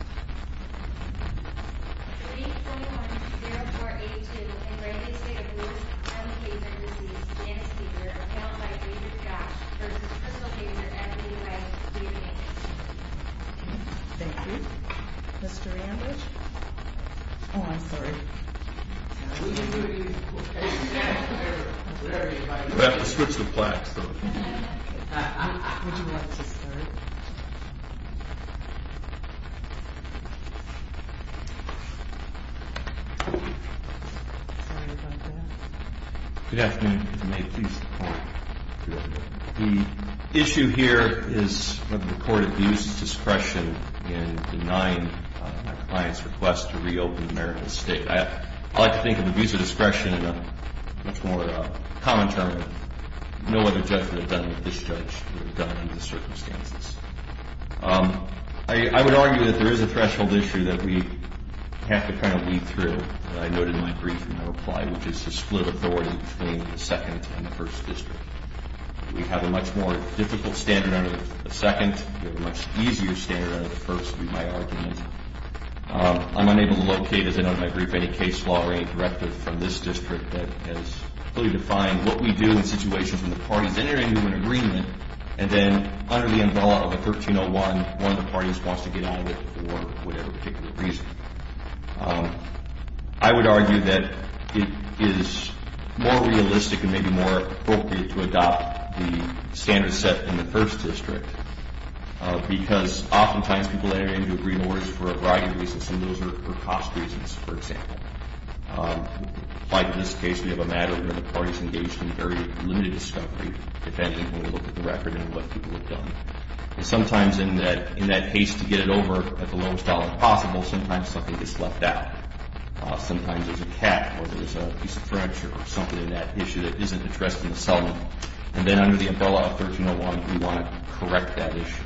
321-0482 and Granby State of Louis M. Kayser received, and speaker, a panel by Andrew Gash versus Crystal Kayser, M.D., by David Angus. Thank you. Mr. Angus? Oh, I'm sorry. We have to switch the plaques, though. Would you like to start? Sorry about that. Good afternoon. If you may, please come to the podium. The issue here is whether the court abuses discretion in denying my client's request to reopen Maricopa State. I like to think of abuse of discretion in a much more common term of, no other judge would have done it if this judge would have done it under the circumstances. I would argue that there is a threshold issue that we have to kind of weed through, and I noted in my brief in my reply, which is to split authority between the 2nd and the 1st District. We have a much more difficult standard under the 2nd. We have a much easier standard under the 1st, would be my argument. I'm unable to locate, as I noted in my brief, any case law or any directive from this district that has fully defined what we do in situations when the parties enter into an agreement and then under the umbrella of a 1301, one of the parties wants to get out of it for whatever particular reason. I would argue that it is more realistic and maybe more appropriate to adopt the standard set in the 1st District because oftentimes people enter into agreements for a variety of reasons, and those are cost reasons, for example. Like in this case, we have a matter where the parties engaged in very limited discovery, depending on the record and what people have done. And sometimes in that haste to get it over at the lowest dollar possible, sometimes something gets left out. Sometimes there's a cat or there's a piece of furniture or something in that issue that isn't addressed in the settlement. And then under the umbrella of 1301, we want to correct that issue.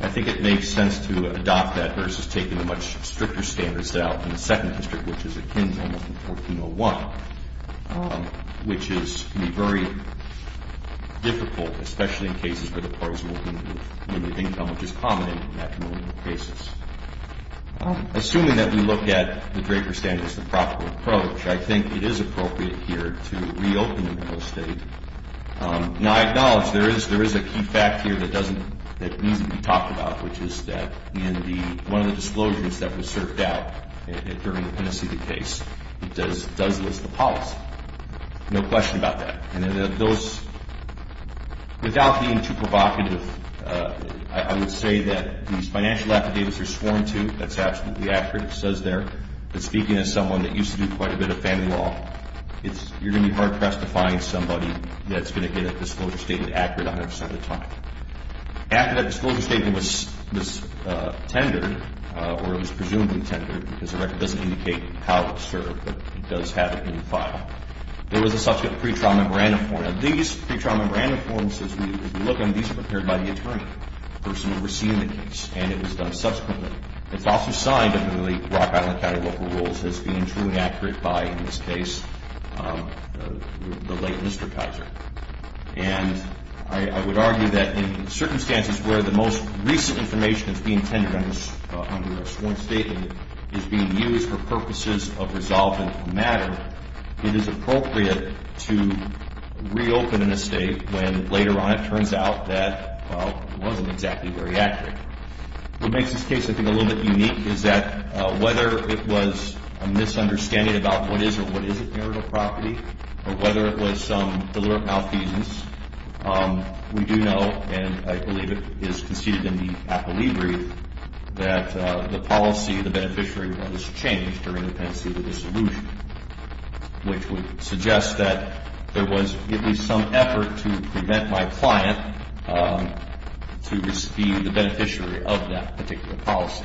I think it makes sense to adopt that versus taking a much stricter standard set out in the 2nd District, which is akin to 1401, which can be very difficult, especially in cases where the parties are working with limited income, which is common in that kind of a basis. Assuming that we look at the Draper standard as the proper approach, I think it is appropriate here to reopen the real estate. Now, I acknowledge there is a key fact here that needs to be talked about, which is that in one of the disclosures that was surfed out during the Tennessee case, it does list the policy. No question about that. And those, without being too provocative, I would say that these financial affidavits are sworn to. That's absolutely accurate. It says there that speaking as someone that used to do quite a bit of family law, you're going to be hard-pressed to find somebody that's going to get a disclosure statement accurate 100% of the time. After that disclosure statement was tendered, or it was presumably tendered, because the record doesn't indicate how it was served, but it does have it in the file, there was a subsequent pre-trial memorandum form. Now, these pre-trial memorandum forms, as we look at them, these were prepared by the attorney, the person overseeing the case, and it was done subsequently. It's also signed under the Rock Island County Local Rules as being truly accurate by, in this case, the late Mr. Kaiser. And I would argue that in circumstances where the most recent information is being tendered under a sworn statement is being used for purposes of resolving a matter, it is appropriate to reopen an estate when later on it turns out that, well, it wasn't exactly very accurate. What makes this case, I think, a little bit unique is that whether it was a misunderstanding about what is or what isn't marital property, or whether it was some deliberate malfeasance, we do know, and I believe it is conceded in the apolibri that the policy of the beneficiary was changed during the pendency of the dissolution, which would suggest that there was at least some effort to prevent my client to be the beneficiary of that particular policy.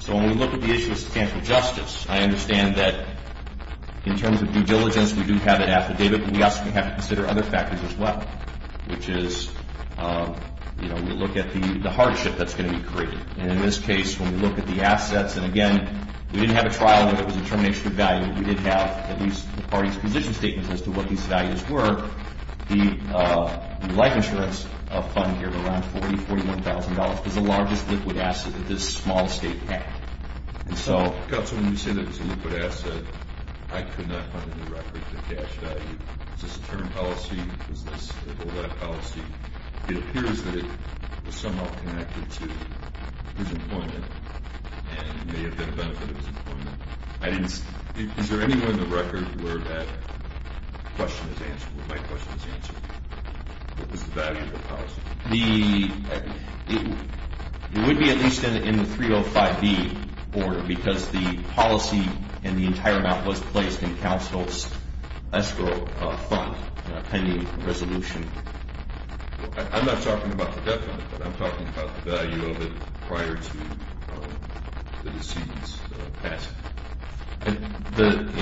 So when we look at the issue of substantial justice, I understand that in terms of due diligence, we do have it affidavit, but we also have to consider other factors as well, which is, you know, we look at the hardship that's going to be created. And in this case, when we look at the assets, and again, we didn't have a trial whether it was a termination of value. We did have at least the parties' position statements as to what these values were. The life insurance fund here, around $40,000 to $41,000, was the largest liquid asset that this small state had. And so when you say that it was a liquid asset, I could not find any record of the cash value. Is this a term policy? Is this a holdout policy? It appears that it was somehow connected to his employment and may have been a benefit of his employment. Is there anywhere in the record where that question is answered, where my question is answered? What was the value of the policy? It would be at least in the 305B order because the policy and the entire amount was placed in counsel's escrow fund pending resolution. I'm not talking about the debt fund, but I'm talking about the value of it prior to the decedent's passing.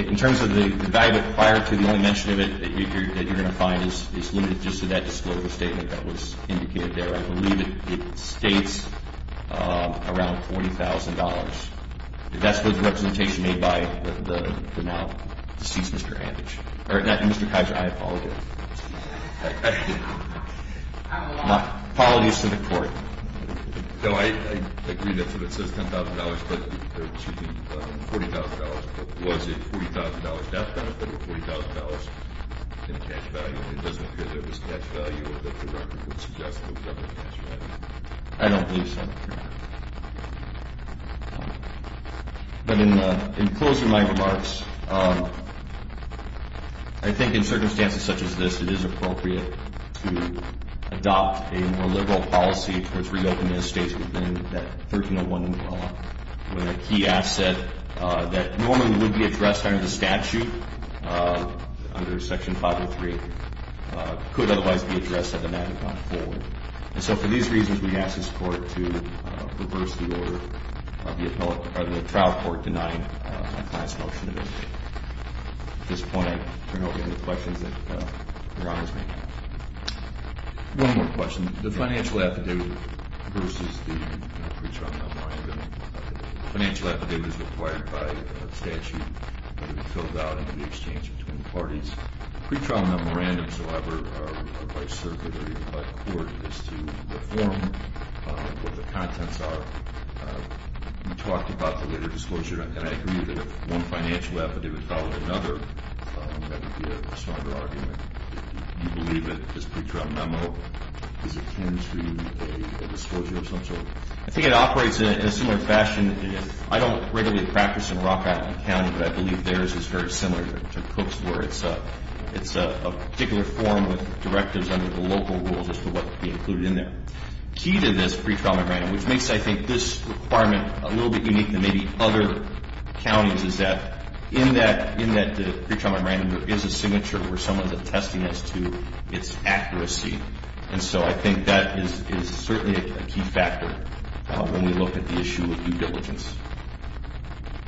In terms of the value of it prior to, the only mention of it that you're going to find is limited just to that disclosure statement that was indicated there. I believe it states around $40,000. That's the representation made by the now deceased Mr. Anditch. Mr. Kaiser, I apologize. Apologies to the court. I agree that it says $10,000, but excuse me, $40,000. Was it $40,000 debt benefit or $40,000 in cash value? It doesn't appear there was cash value that the record would suggest. I don't believe so. But in closing my remarks, I think in circumstances such as this, it is appropriate to adopt a more liberal policy towards reopening the states within that 1301 law, with a key asset that normally would be addressed under the statute, under Section 503, could otherwise be addressed at the Magna Carta forward. And so for these reasons, we ask this court to reverse the order of the trial court denying my client's motion to visit. At this point, I turn over to the questions that your Honor is making. One more question. The financial affidavit versus the pretrial memorandum. The financial affidavit is required by statute to be filled out into the exchange between parties. The pretrial memorandum, however, by circuit or even by court, is to reform what the contents are. You talked about the later disclosure, and I agree that if one financial affidavit followed another, that would be a stronger argument. Do you believe that this pretrial memo is akin to a disclosure of some sort? I think it operates in a similar fashion. I don't regularly practice in Rock Island County, but I believe theirs is very similar to Cook's, where it's a particular form with directives under the local rules as to what could be included in there. Key to this pretrial memorandum, which makes, I think, this requirement a little bit unique than maybe other counties, is that in that pretrial memorandum, there is a signature where someone is attesting as to its accuracy. And so I think that is certainly a key factor when we look at the issue of due diligence.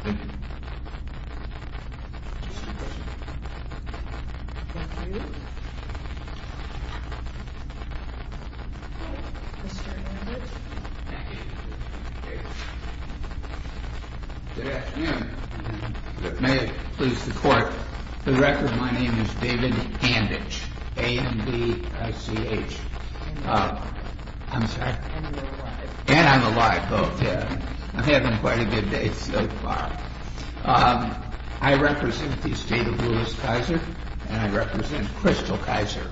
Thank you. Good afternoon. May it please the Court, for the record, my name is David Handich. A-H-A-N-D-I-C-H. I'm sorry? And you're alive. And I'm alive, both, yeah. I've had quite a good day so far. I represent the estate of Louis Kaiser, and I represent Crystal Kaiser,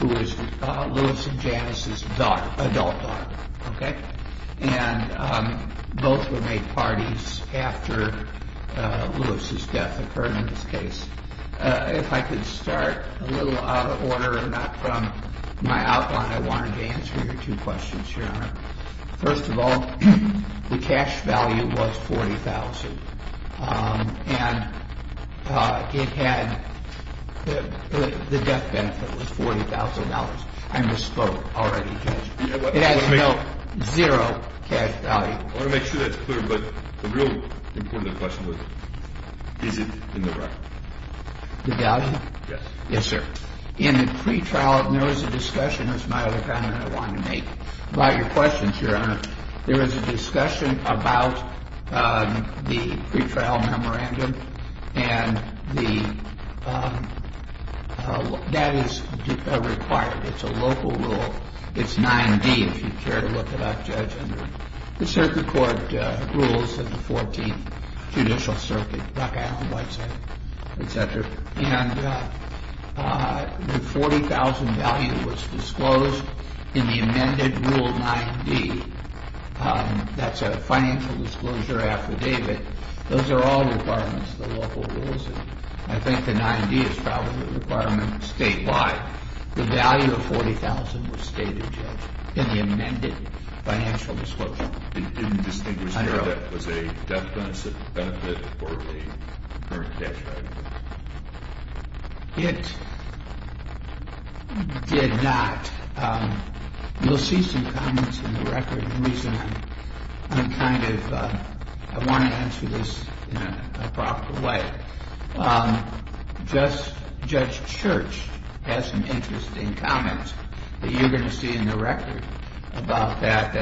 who is Louis and Janice's daughter, adult daughter, okay? And both were made parties after Louis's death occurred in this case. If I could start a little out of order and not from my outline, I wanted to answer your two questions, Your Honor. First of all, the cash value was $40,000, and it had the death benefit was $40,000. I misspoke already, Judge. It has no, zero cash value. I want to make sure that's clear, but the real important question was, is it in the record? The value? Yes. Yes, sir. In the pretrial, there was a discussion, that's my other comment I wanted to make, about your questions, Your Honor. There was a discussion about the pretrial memorandum, and that is required. It's a local rule. It's 9-D, if you care to look it up, Judge, under the circuit court rules of the 14th Judicial Circuit, Buck Island White Circuit, et cetera. And the $40,000 value was disclosed in the amended Rule 9-D. That's a financial disclosure affidavit. Those are all requirements of the local rules, and I think the 9-D is probably the requirement statewide. The value of $40,000 was stated, Judge, in the amended financial disclosure. It didn't distinguish whether that was a death benefit or a earned cash value? It did not. You'll see some comments in the record, and the reason I'm kind of, I want to answer this in a proper way. Judge Church has some interesting comments that you're going to see in the record about that,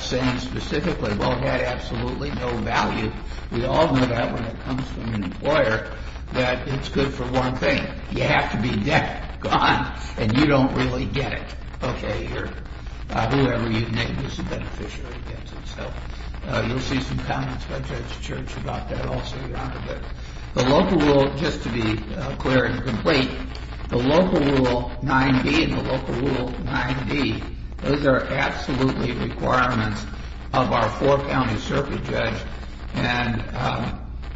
saying specifically, well, it had absolutely no value. We all know that when it comes from an employer, that it's good for one thing. You have to be dead, gone, and you don't really get it. Okay, whoever you name is a beneficiary against itself. You'll see some comments by Judge Church about that also, Your Honor. The local rule, just to be clear and complete, the local Rule 9-D and the local Rule 9-D, those are absolutely requirements of our four-county circuit judge, and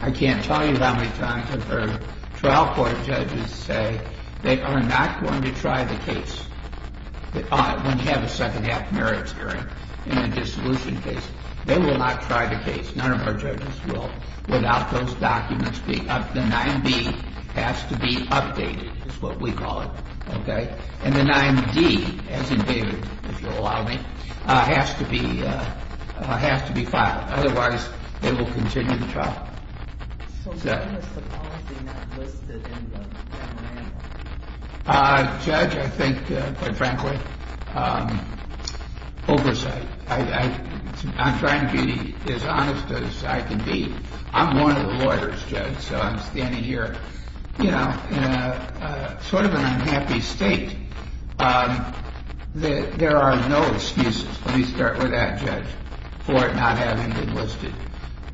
I can't tell you how many times I've heard trial court judges say they are not going to try the case when you have a second half merits hearing in a dissolution case. They will not try the case, none of our judges will, without those documents being updated. The 9-D has to be updated, is what we call it, okay? And the 9-D, as in David, if you'll allow me, has to be filed. Otherwise, they will continue the trial. So why is the policy not listed in the general manual? Judge, I think, quite frankly, oversight. I'm trying to be as honest as I can be. I'm one of the lawyers, Judge, so I'm standing here in sort of an unhappy state. There are no excuses, let me start with that, Judge, for it not having been listed,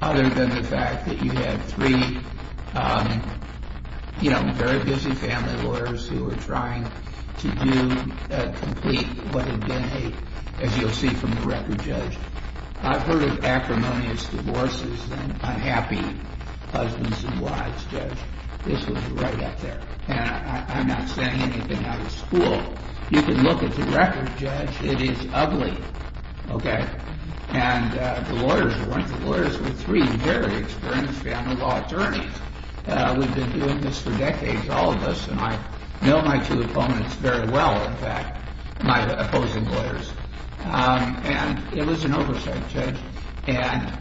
other than the fact that you had three, you know, very busy family lawyers who were trying to do a complete, what have been a, as you'll see from the record, Judge. I've heard of acrimonious divorces and unhappy husbands and wives, Judge. This was right up there, and I'm not saying anything out of school. You can look at the record, Judge, it is ugly, okay? And the lawyers were three very experienced family law attorneys. We've been doing this for decades, all of us, and I know my two opponents very well, in fact, my opposing lawyers. And it was an oversight, Judge, and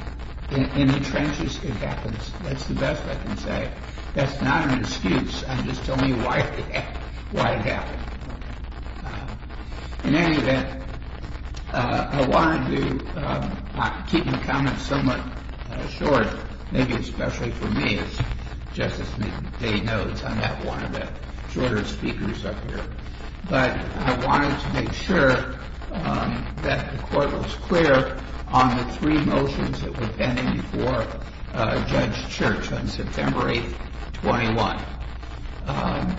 in the trenches it happens. That's the best I can say. That's not an excuse, and just tell me why it happened. In any event, I wanted to keep my comments somewhat short, maybe especially for me as Justice Day notes, I'm not one of the shorter speakers up here. But I wanted to make sure that the court was clear on the three motions that were pending before Judge Church on September 8th, 21,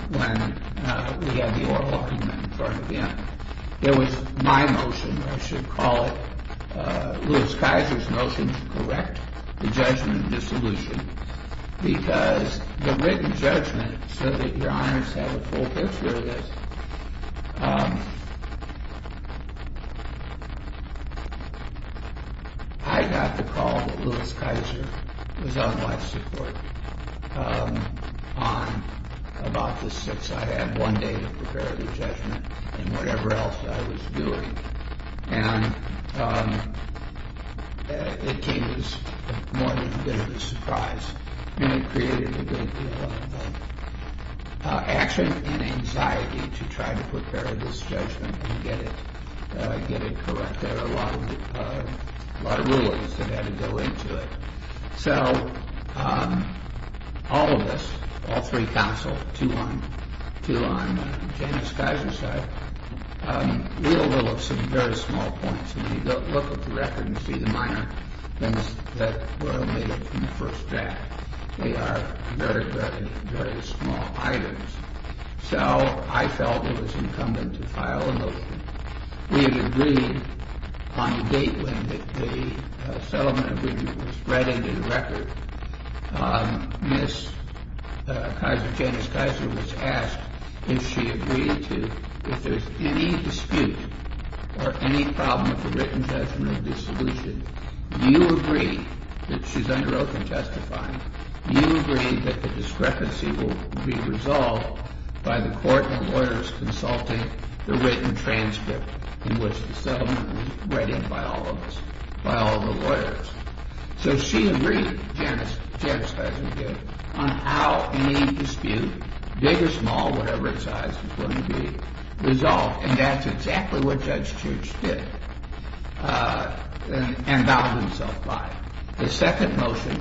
when we had the oral argument in front of him. It was my motion, or I should call it Lewis Keiser's motion, to correct the judgment dissolution, because the written judgment said that Your Honors had a full picture of this. I got the call that Lewis Keiser was on life support on about this since I had one day to prepare the judgment and whatever else I was doing. And it came as more than a bit of a surprise, and it created a big deal of action and anxiety to try to prepare this judgment and get it correct. There were a lot of rulings that had to go into it. So all of us, all three counsel, two on Janus Keiser's side, we all know of some very small points. And you look at the record and see the minor things that were omitted from the first draft. They are very, very, very small items. So I felt it was incumbent to file a motion. We had agreed on the date when the settlement agreement was read into the record. Ms. Keiser, Janus Keiser, was asked if she agreed to, if there's any dispute or any problem with the written judgment of dissolution, do you agree that she's under oath in testifying? Do you agree that the discrepancy will be resolved by the court and lawyers consulting the written transcript in which the settlement was read in by all of us, by all of the lawyers? So she agreed, Janus Keiser did, on how any dispute, big or small, whatever its size, was going to be resolved. And that's exactly what Judge Church did and bound himself by it. The second motion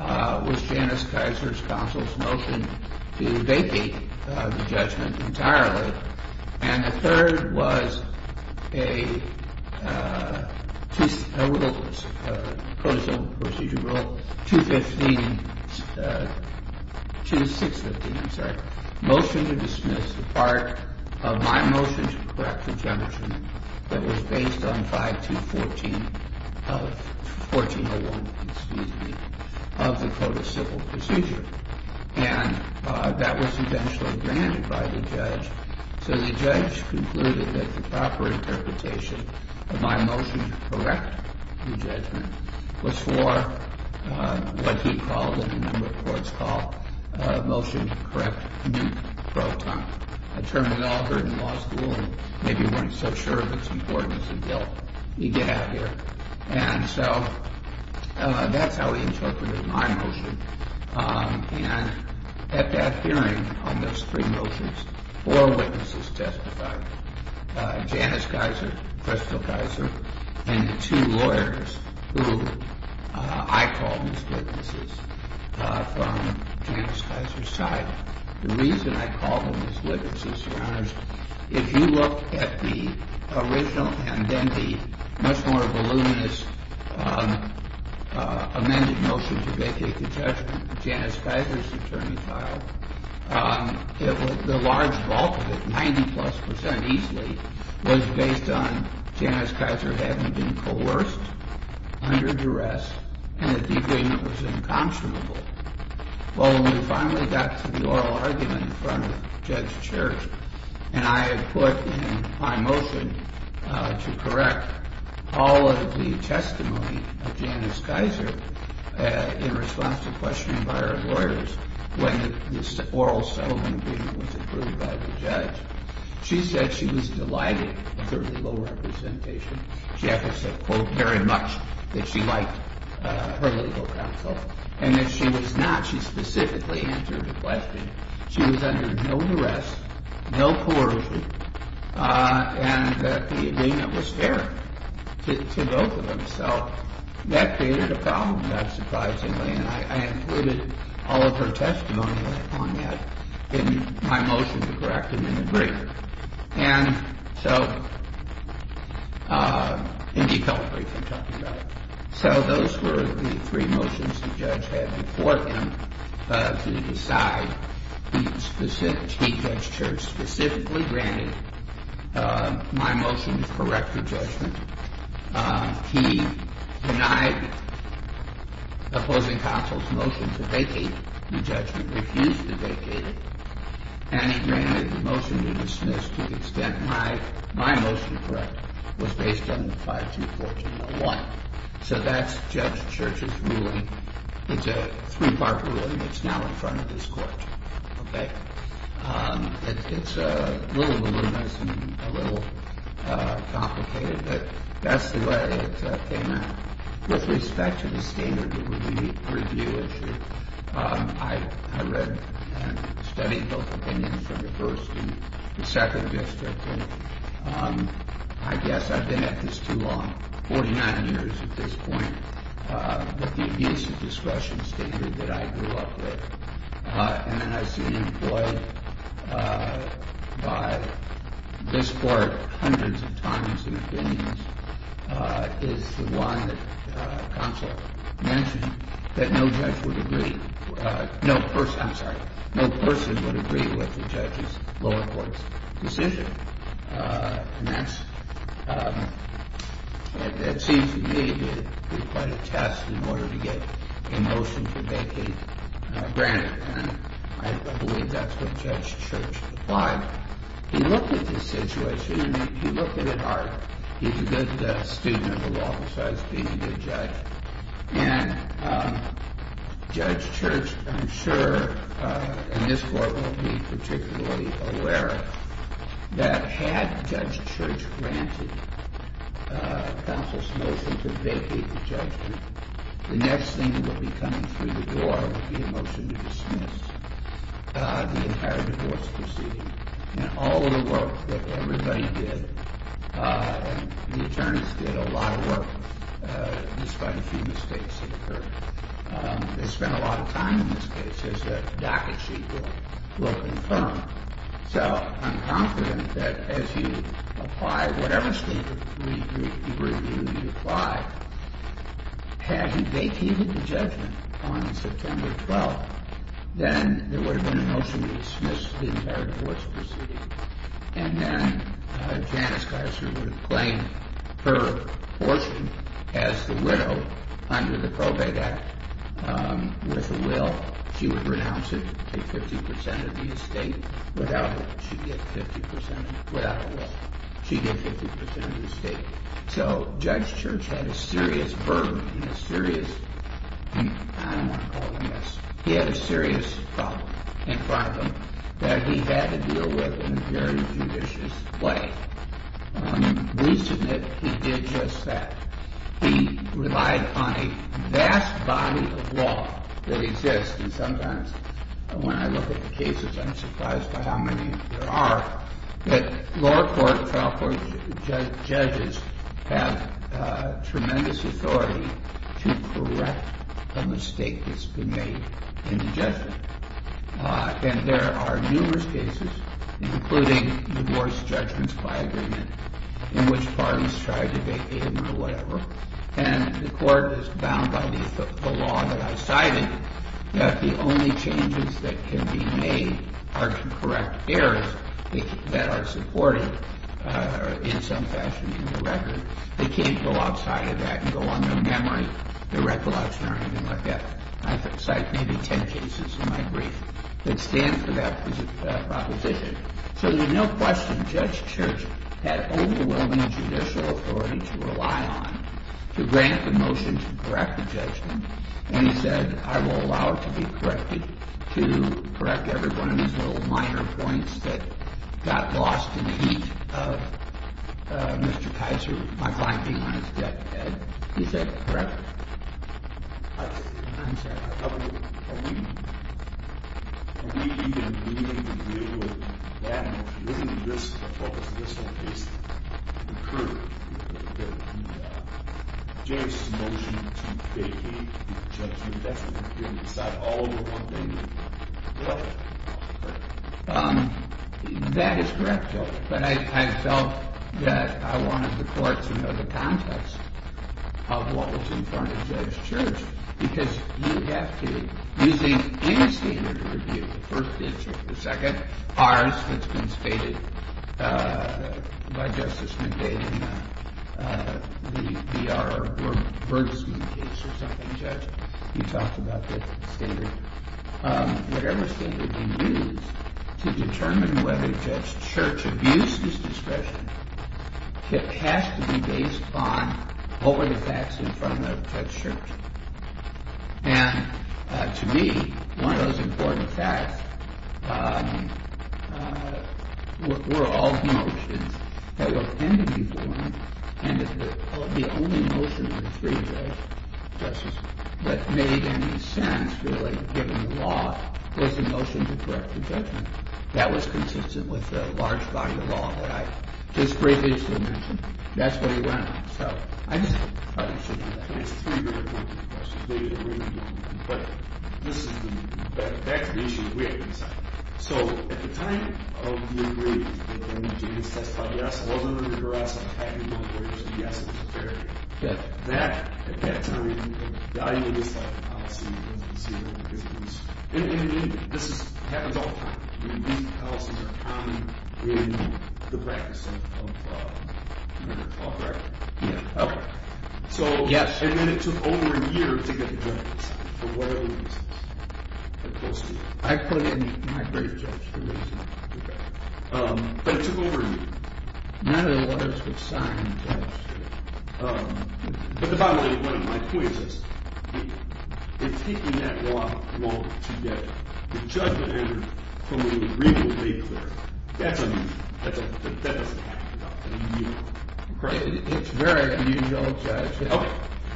was Janus Keiser's counsel's motion to debate the judgment entirely. And the third was a procedural, procedural 215, 216, I'm sorry, motion to dismiss the part of my motion to correct the judgment that was based on 5214 of, 1401, excuse me, of the codicillable procedure. And that was eventually granted by the judge. So the judge concluded that the proper interpretation of my motion to correct the judgment was for what he called, and a number of courts called, a motion to correct a new proton. A term we all heard in law school and maybe weren't so sure of its importance until you get out here. And so that's how he interpreted my motion. And at that hearing on those three motions, four witnesses testified, Janus Keiser, Crystal Keiser, and two lawyers who I called as witnesses from Janus Keiser's side. The reason I called them as witnesses, Your Honors, if you look at the original and then the much more voluminous amended motion to vacate the judgment, Janus Keiser's attorney filed, the large bulk of it, 90 plus percent easily, was based on Janus Keiser having been coerced, under duress, and that the agreement was inconstitutable. Well, when we finally got to the oral argument in front of Judge Church, and I had put in my motion to correct all of the testimony of Janus Keiser in response to questioning by our lawyers when this oral settlement agreement was approved by the judge, she said she was delighted with her legal representation. She actually said, quote, very much that she liked her legal counsel. And that she was not. She specifically answered the question. She was under no duress, no coercion, and that the agreement was fair to both of them. So that created a problem, not surprisingly, and I included all of her testimony on that in my motion to correct him in the brief. And so in detail brief I'm talking about. So those were the three motions the judge had before him to decide. He specifically, Judge Church, specifically granted my motion to correct the judgment. He denied the opposing counsel's motion to vacate the judgment, refused to vacate it, and he granted the motion to dismiss to the extent my motion to correct was based on 524201. So that's Judge Church's ruling. It's a three-part ruling that's now in front of this court. Okay? It's a little voluminous and a little complicated, but that's the way it came out. With respect to the standard review issue, I read and studied both opinions from the first and the second district, and I guess I've been at this too long, 49 years at this point, with the abuse of discretion standard that I grew up with. And then I've seen employed by this court hundreds of times in opinions is the one that counsel mentioned that no judge would agree, no person, I'm sorry, no person would agree with the judge's lower court's decision. And that seems to me to be quite a test in order to get a motion to vacate granted. And I believe that's what Judge Church applied. He looked at the situation, he looked at it hard. He's a good student of the law besides being a good judge. And Judge Church, I'm sure, and this court won't be particularly aware, that had Judge Church granted counsel's motion to vacate the judgment, the next thing that would be coming through the door would be a motion to dismiss the entire divorce proceeding. And all of the work that everybody did, the attorneys did a lot of work, despite a few mistakes that occurred. They spent a lot of time in this case, as the docket sheet will confirm. So I'm confident that as you apply whatever statement review you apply, had he vacated the judgment on September 12th, then there would have been a motion to dismiss the entire divorce proceeding. And then Janice Geisler would have claimed her portion as the widow under the Probate Act with a will. She would renounce it, take 50% of the estate. Without a will, she'd get 50% of the estate. So Judge Church had a serious burden and a serious, I don't want to call it a mess, he had a serious problem in front of him that he had to deal with in a very judicious way. We submit he did just that. He relied on a vast body of law that exists, and sometimes when I look at the cases I'm surprised by how many there are, that lower court, trial court judges have tremendous authority to correct a mistake that's been made in the judgment. And there are numerous cases, including divorce judgments by agreement, in which parties try to vacate them or whatever, and the court is bound by the law that I cited, that the only changes that can be made are to correct errors that are supported in some fashion in the record. They can't go outside of that and go on their memory, their recollection or anything like that. I've cited maybe 10 cases in my brief that stand for that proposition. So there's no question Judge Church had overwhelming judicial authority to rely on to grant the motion to correct the judgment when he said, I will allow it to be corrected, to correct every one of these little minor points that got lost in the heat of Mr. Kaiser, my client being on his deathbed. Is that correct? I'm sorry. That is correct, Joe. But I felt that I wanted the court to know the context of what was in front of Judge Church, because you have to, using any standard of review, the first instance or the second, ours that's been stated by Justice McVeigh in the BR or Bergstein case or something, Judge, you talked about the standard, whatever standard we use to determine whether Judge Church abused his discretion, it has to be based on what were the facts in front of Judge Church. And to me, one of those important facts were all the motions that were pending before him and the only motion of the three judges that made any sense, really, given the law, was the motion to correct the judgment. That was consistent with the large body of law that I... His briefings were mentioned. That's what he went on. So I just thought we should do that. It's three very important questions, but that's the issue that we have to decide. So at the time of the agreement, when the judges testified, yes, it wasn't under duress, it was a happy moment, where it was a yes, it was a fair judgment. At that time, the idea was like a policy, and this happens all the time. These policies are common in the practice of merit law, correct? Yes. And then it took over a year to get the judges, for whatever reasons. I put in my great judge, but it took over a year. None of the lawyers would sign the judge. But the bottom line of my point is this. If keeping that law won't get the judgment anger from a legally clear, that doesn't happen. It's very unusual, Judge.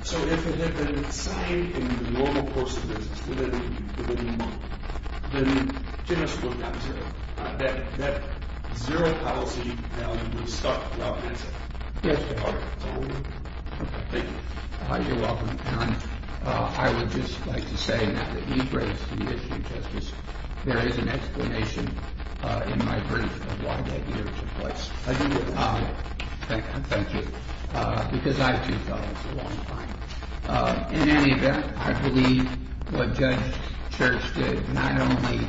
So if it had been signed in the normal course of business, within a month, then judges wouldn't have to. That zero policy value would have stuck. Yes. Thank you. You're welcome. I would just like to say now that you've raised the issue of justice, there is an explanation in my brief of why that year took place. I do with honor. Thank you. Thank you. Because I too felt it was a long time. In any event, I believe what Judge Church did not only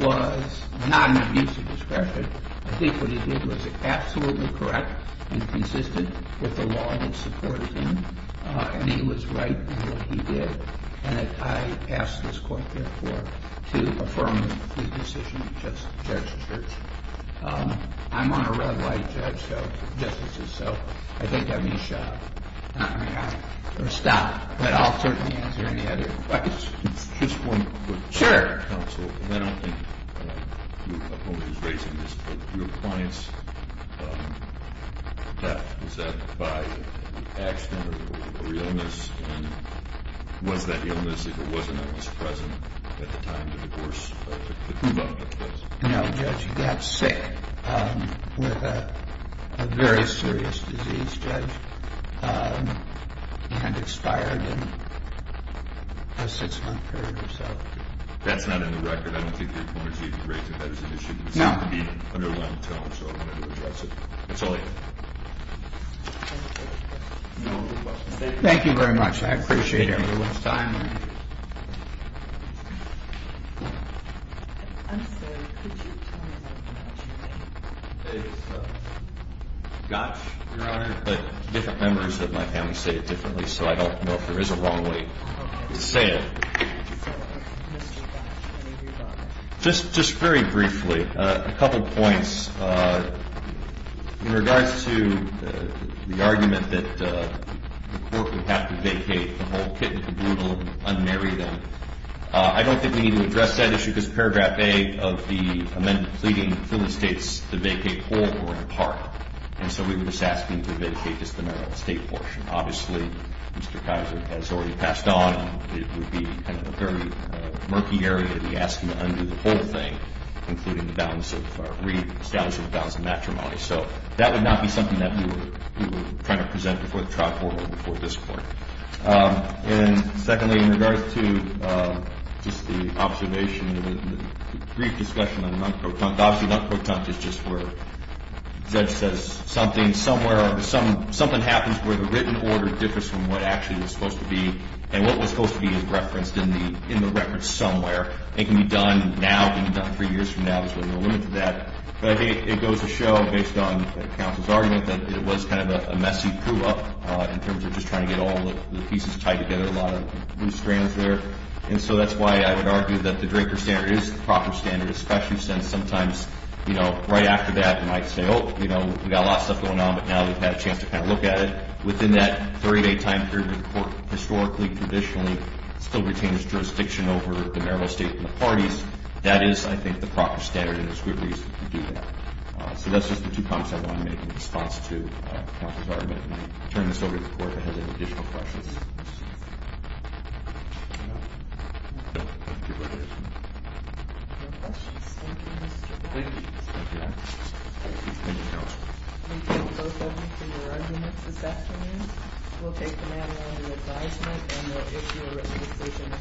was not an abuse of discretion. I think what he did was absolutely correct and consistent with the law that supported him. And he was right in what he did. And I ask this court, therefore, to affirm the decision of Judge Church. I'm on a red light, Judge. Justice is so. I think I'm going to shut up. I'm going to stop. But I'll certainly answer any other questions. Just one quick question. Sure. Counsel, I don't think your opponent is raising this, but your client's death, was that by accident or illness? And was that illness, if it wasn't, that was present at the time of the divorce that took place? No, Judge. Judge got sick with a very serious disease, Judge, and expired in a six-month period or so. That's not in the record. I don't think your opponent is even raising that as an issue. No. It seemed to be an underlined tone, so I wanted to address it. That's all I have. Thank you very much. I appreciate everyone's time. Counsel, could you tell us about your name? It's Gotch, Your Honor, but different members of my family say it differently, so I don't know if there is a wrong way to say it. So, Mr. Gotch. Just very briefly, a couple points. In regards to the argument that the court would have to vacate the whole kit and caboodle and unmarry them, I don't think we need to address that issue, because paragraph A of the amendment pleading for the states to vacate all or in part, and so we were just asking to vacate just the Maryland state portion. Obviously, Mr. Kaiser has already passed on, and it would be kind of a very murky area to be asking to undo the whole thing, including the balance of reestablishing the balance of matrimony. So that would not be something that we were trying to present before the And secondly, in regards to just the observation, the brief discussion on the non-quotant, obviously non-quotant is just where something happens where the written order differs from what actually is supposed to be, and what was supposed to be is referenced in the reference somewhere. It can be done now. It can be done three years from now. There's really no limit to that, but I think it goes to show based on counsel's argument that it was kind of a loose strands there, and so that's why I would argue that the Draker standard is the proper standard, especially since sometimes, you know, right after that, we might say, oh, you know, we've got a lot of stuff going on, but now we've had a chance to kind of look at it. Within that three-day time period where the court historically, traditionally still retains jurisdiction over the Maryland state and the parties, that is, I think, the proper standard, and it's a good reason to do that. So that's just the two comments I wanted to make in response to counsel's argument, and I'll turn this over to the court if it has any additional questions. Thank you, Mr. Patrick. Thank you. Thank you, counsel. We thank both of you for your arguments this afternoon. We'll take the matter under advisement and we'll issue a recommendation expected April 25th.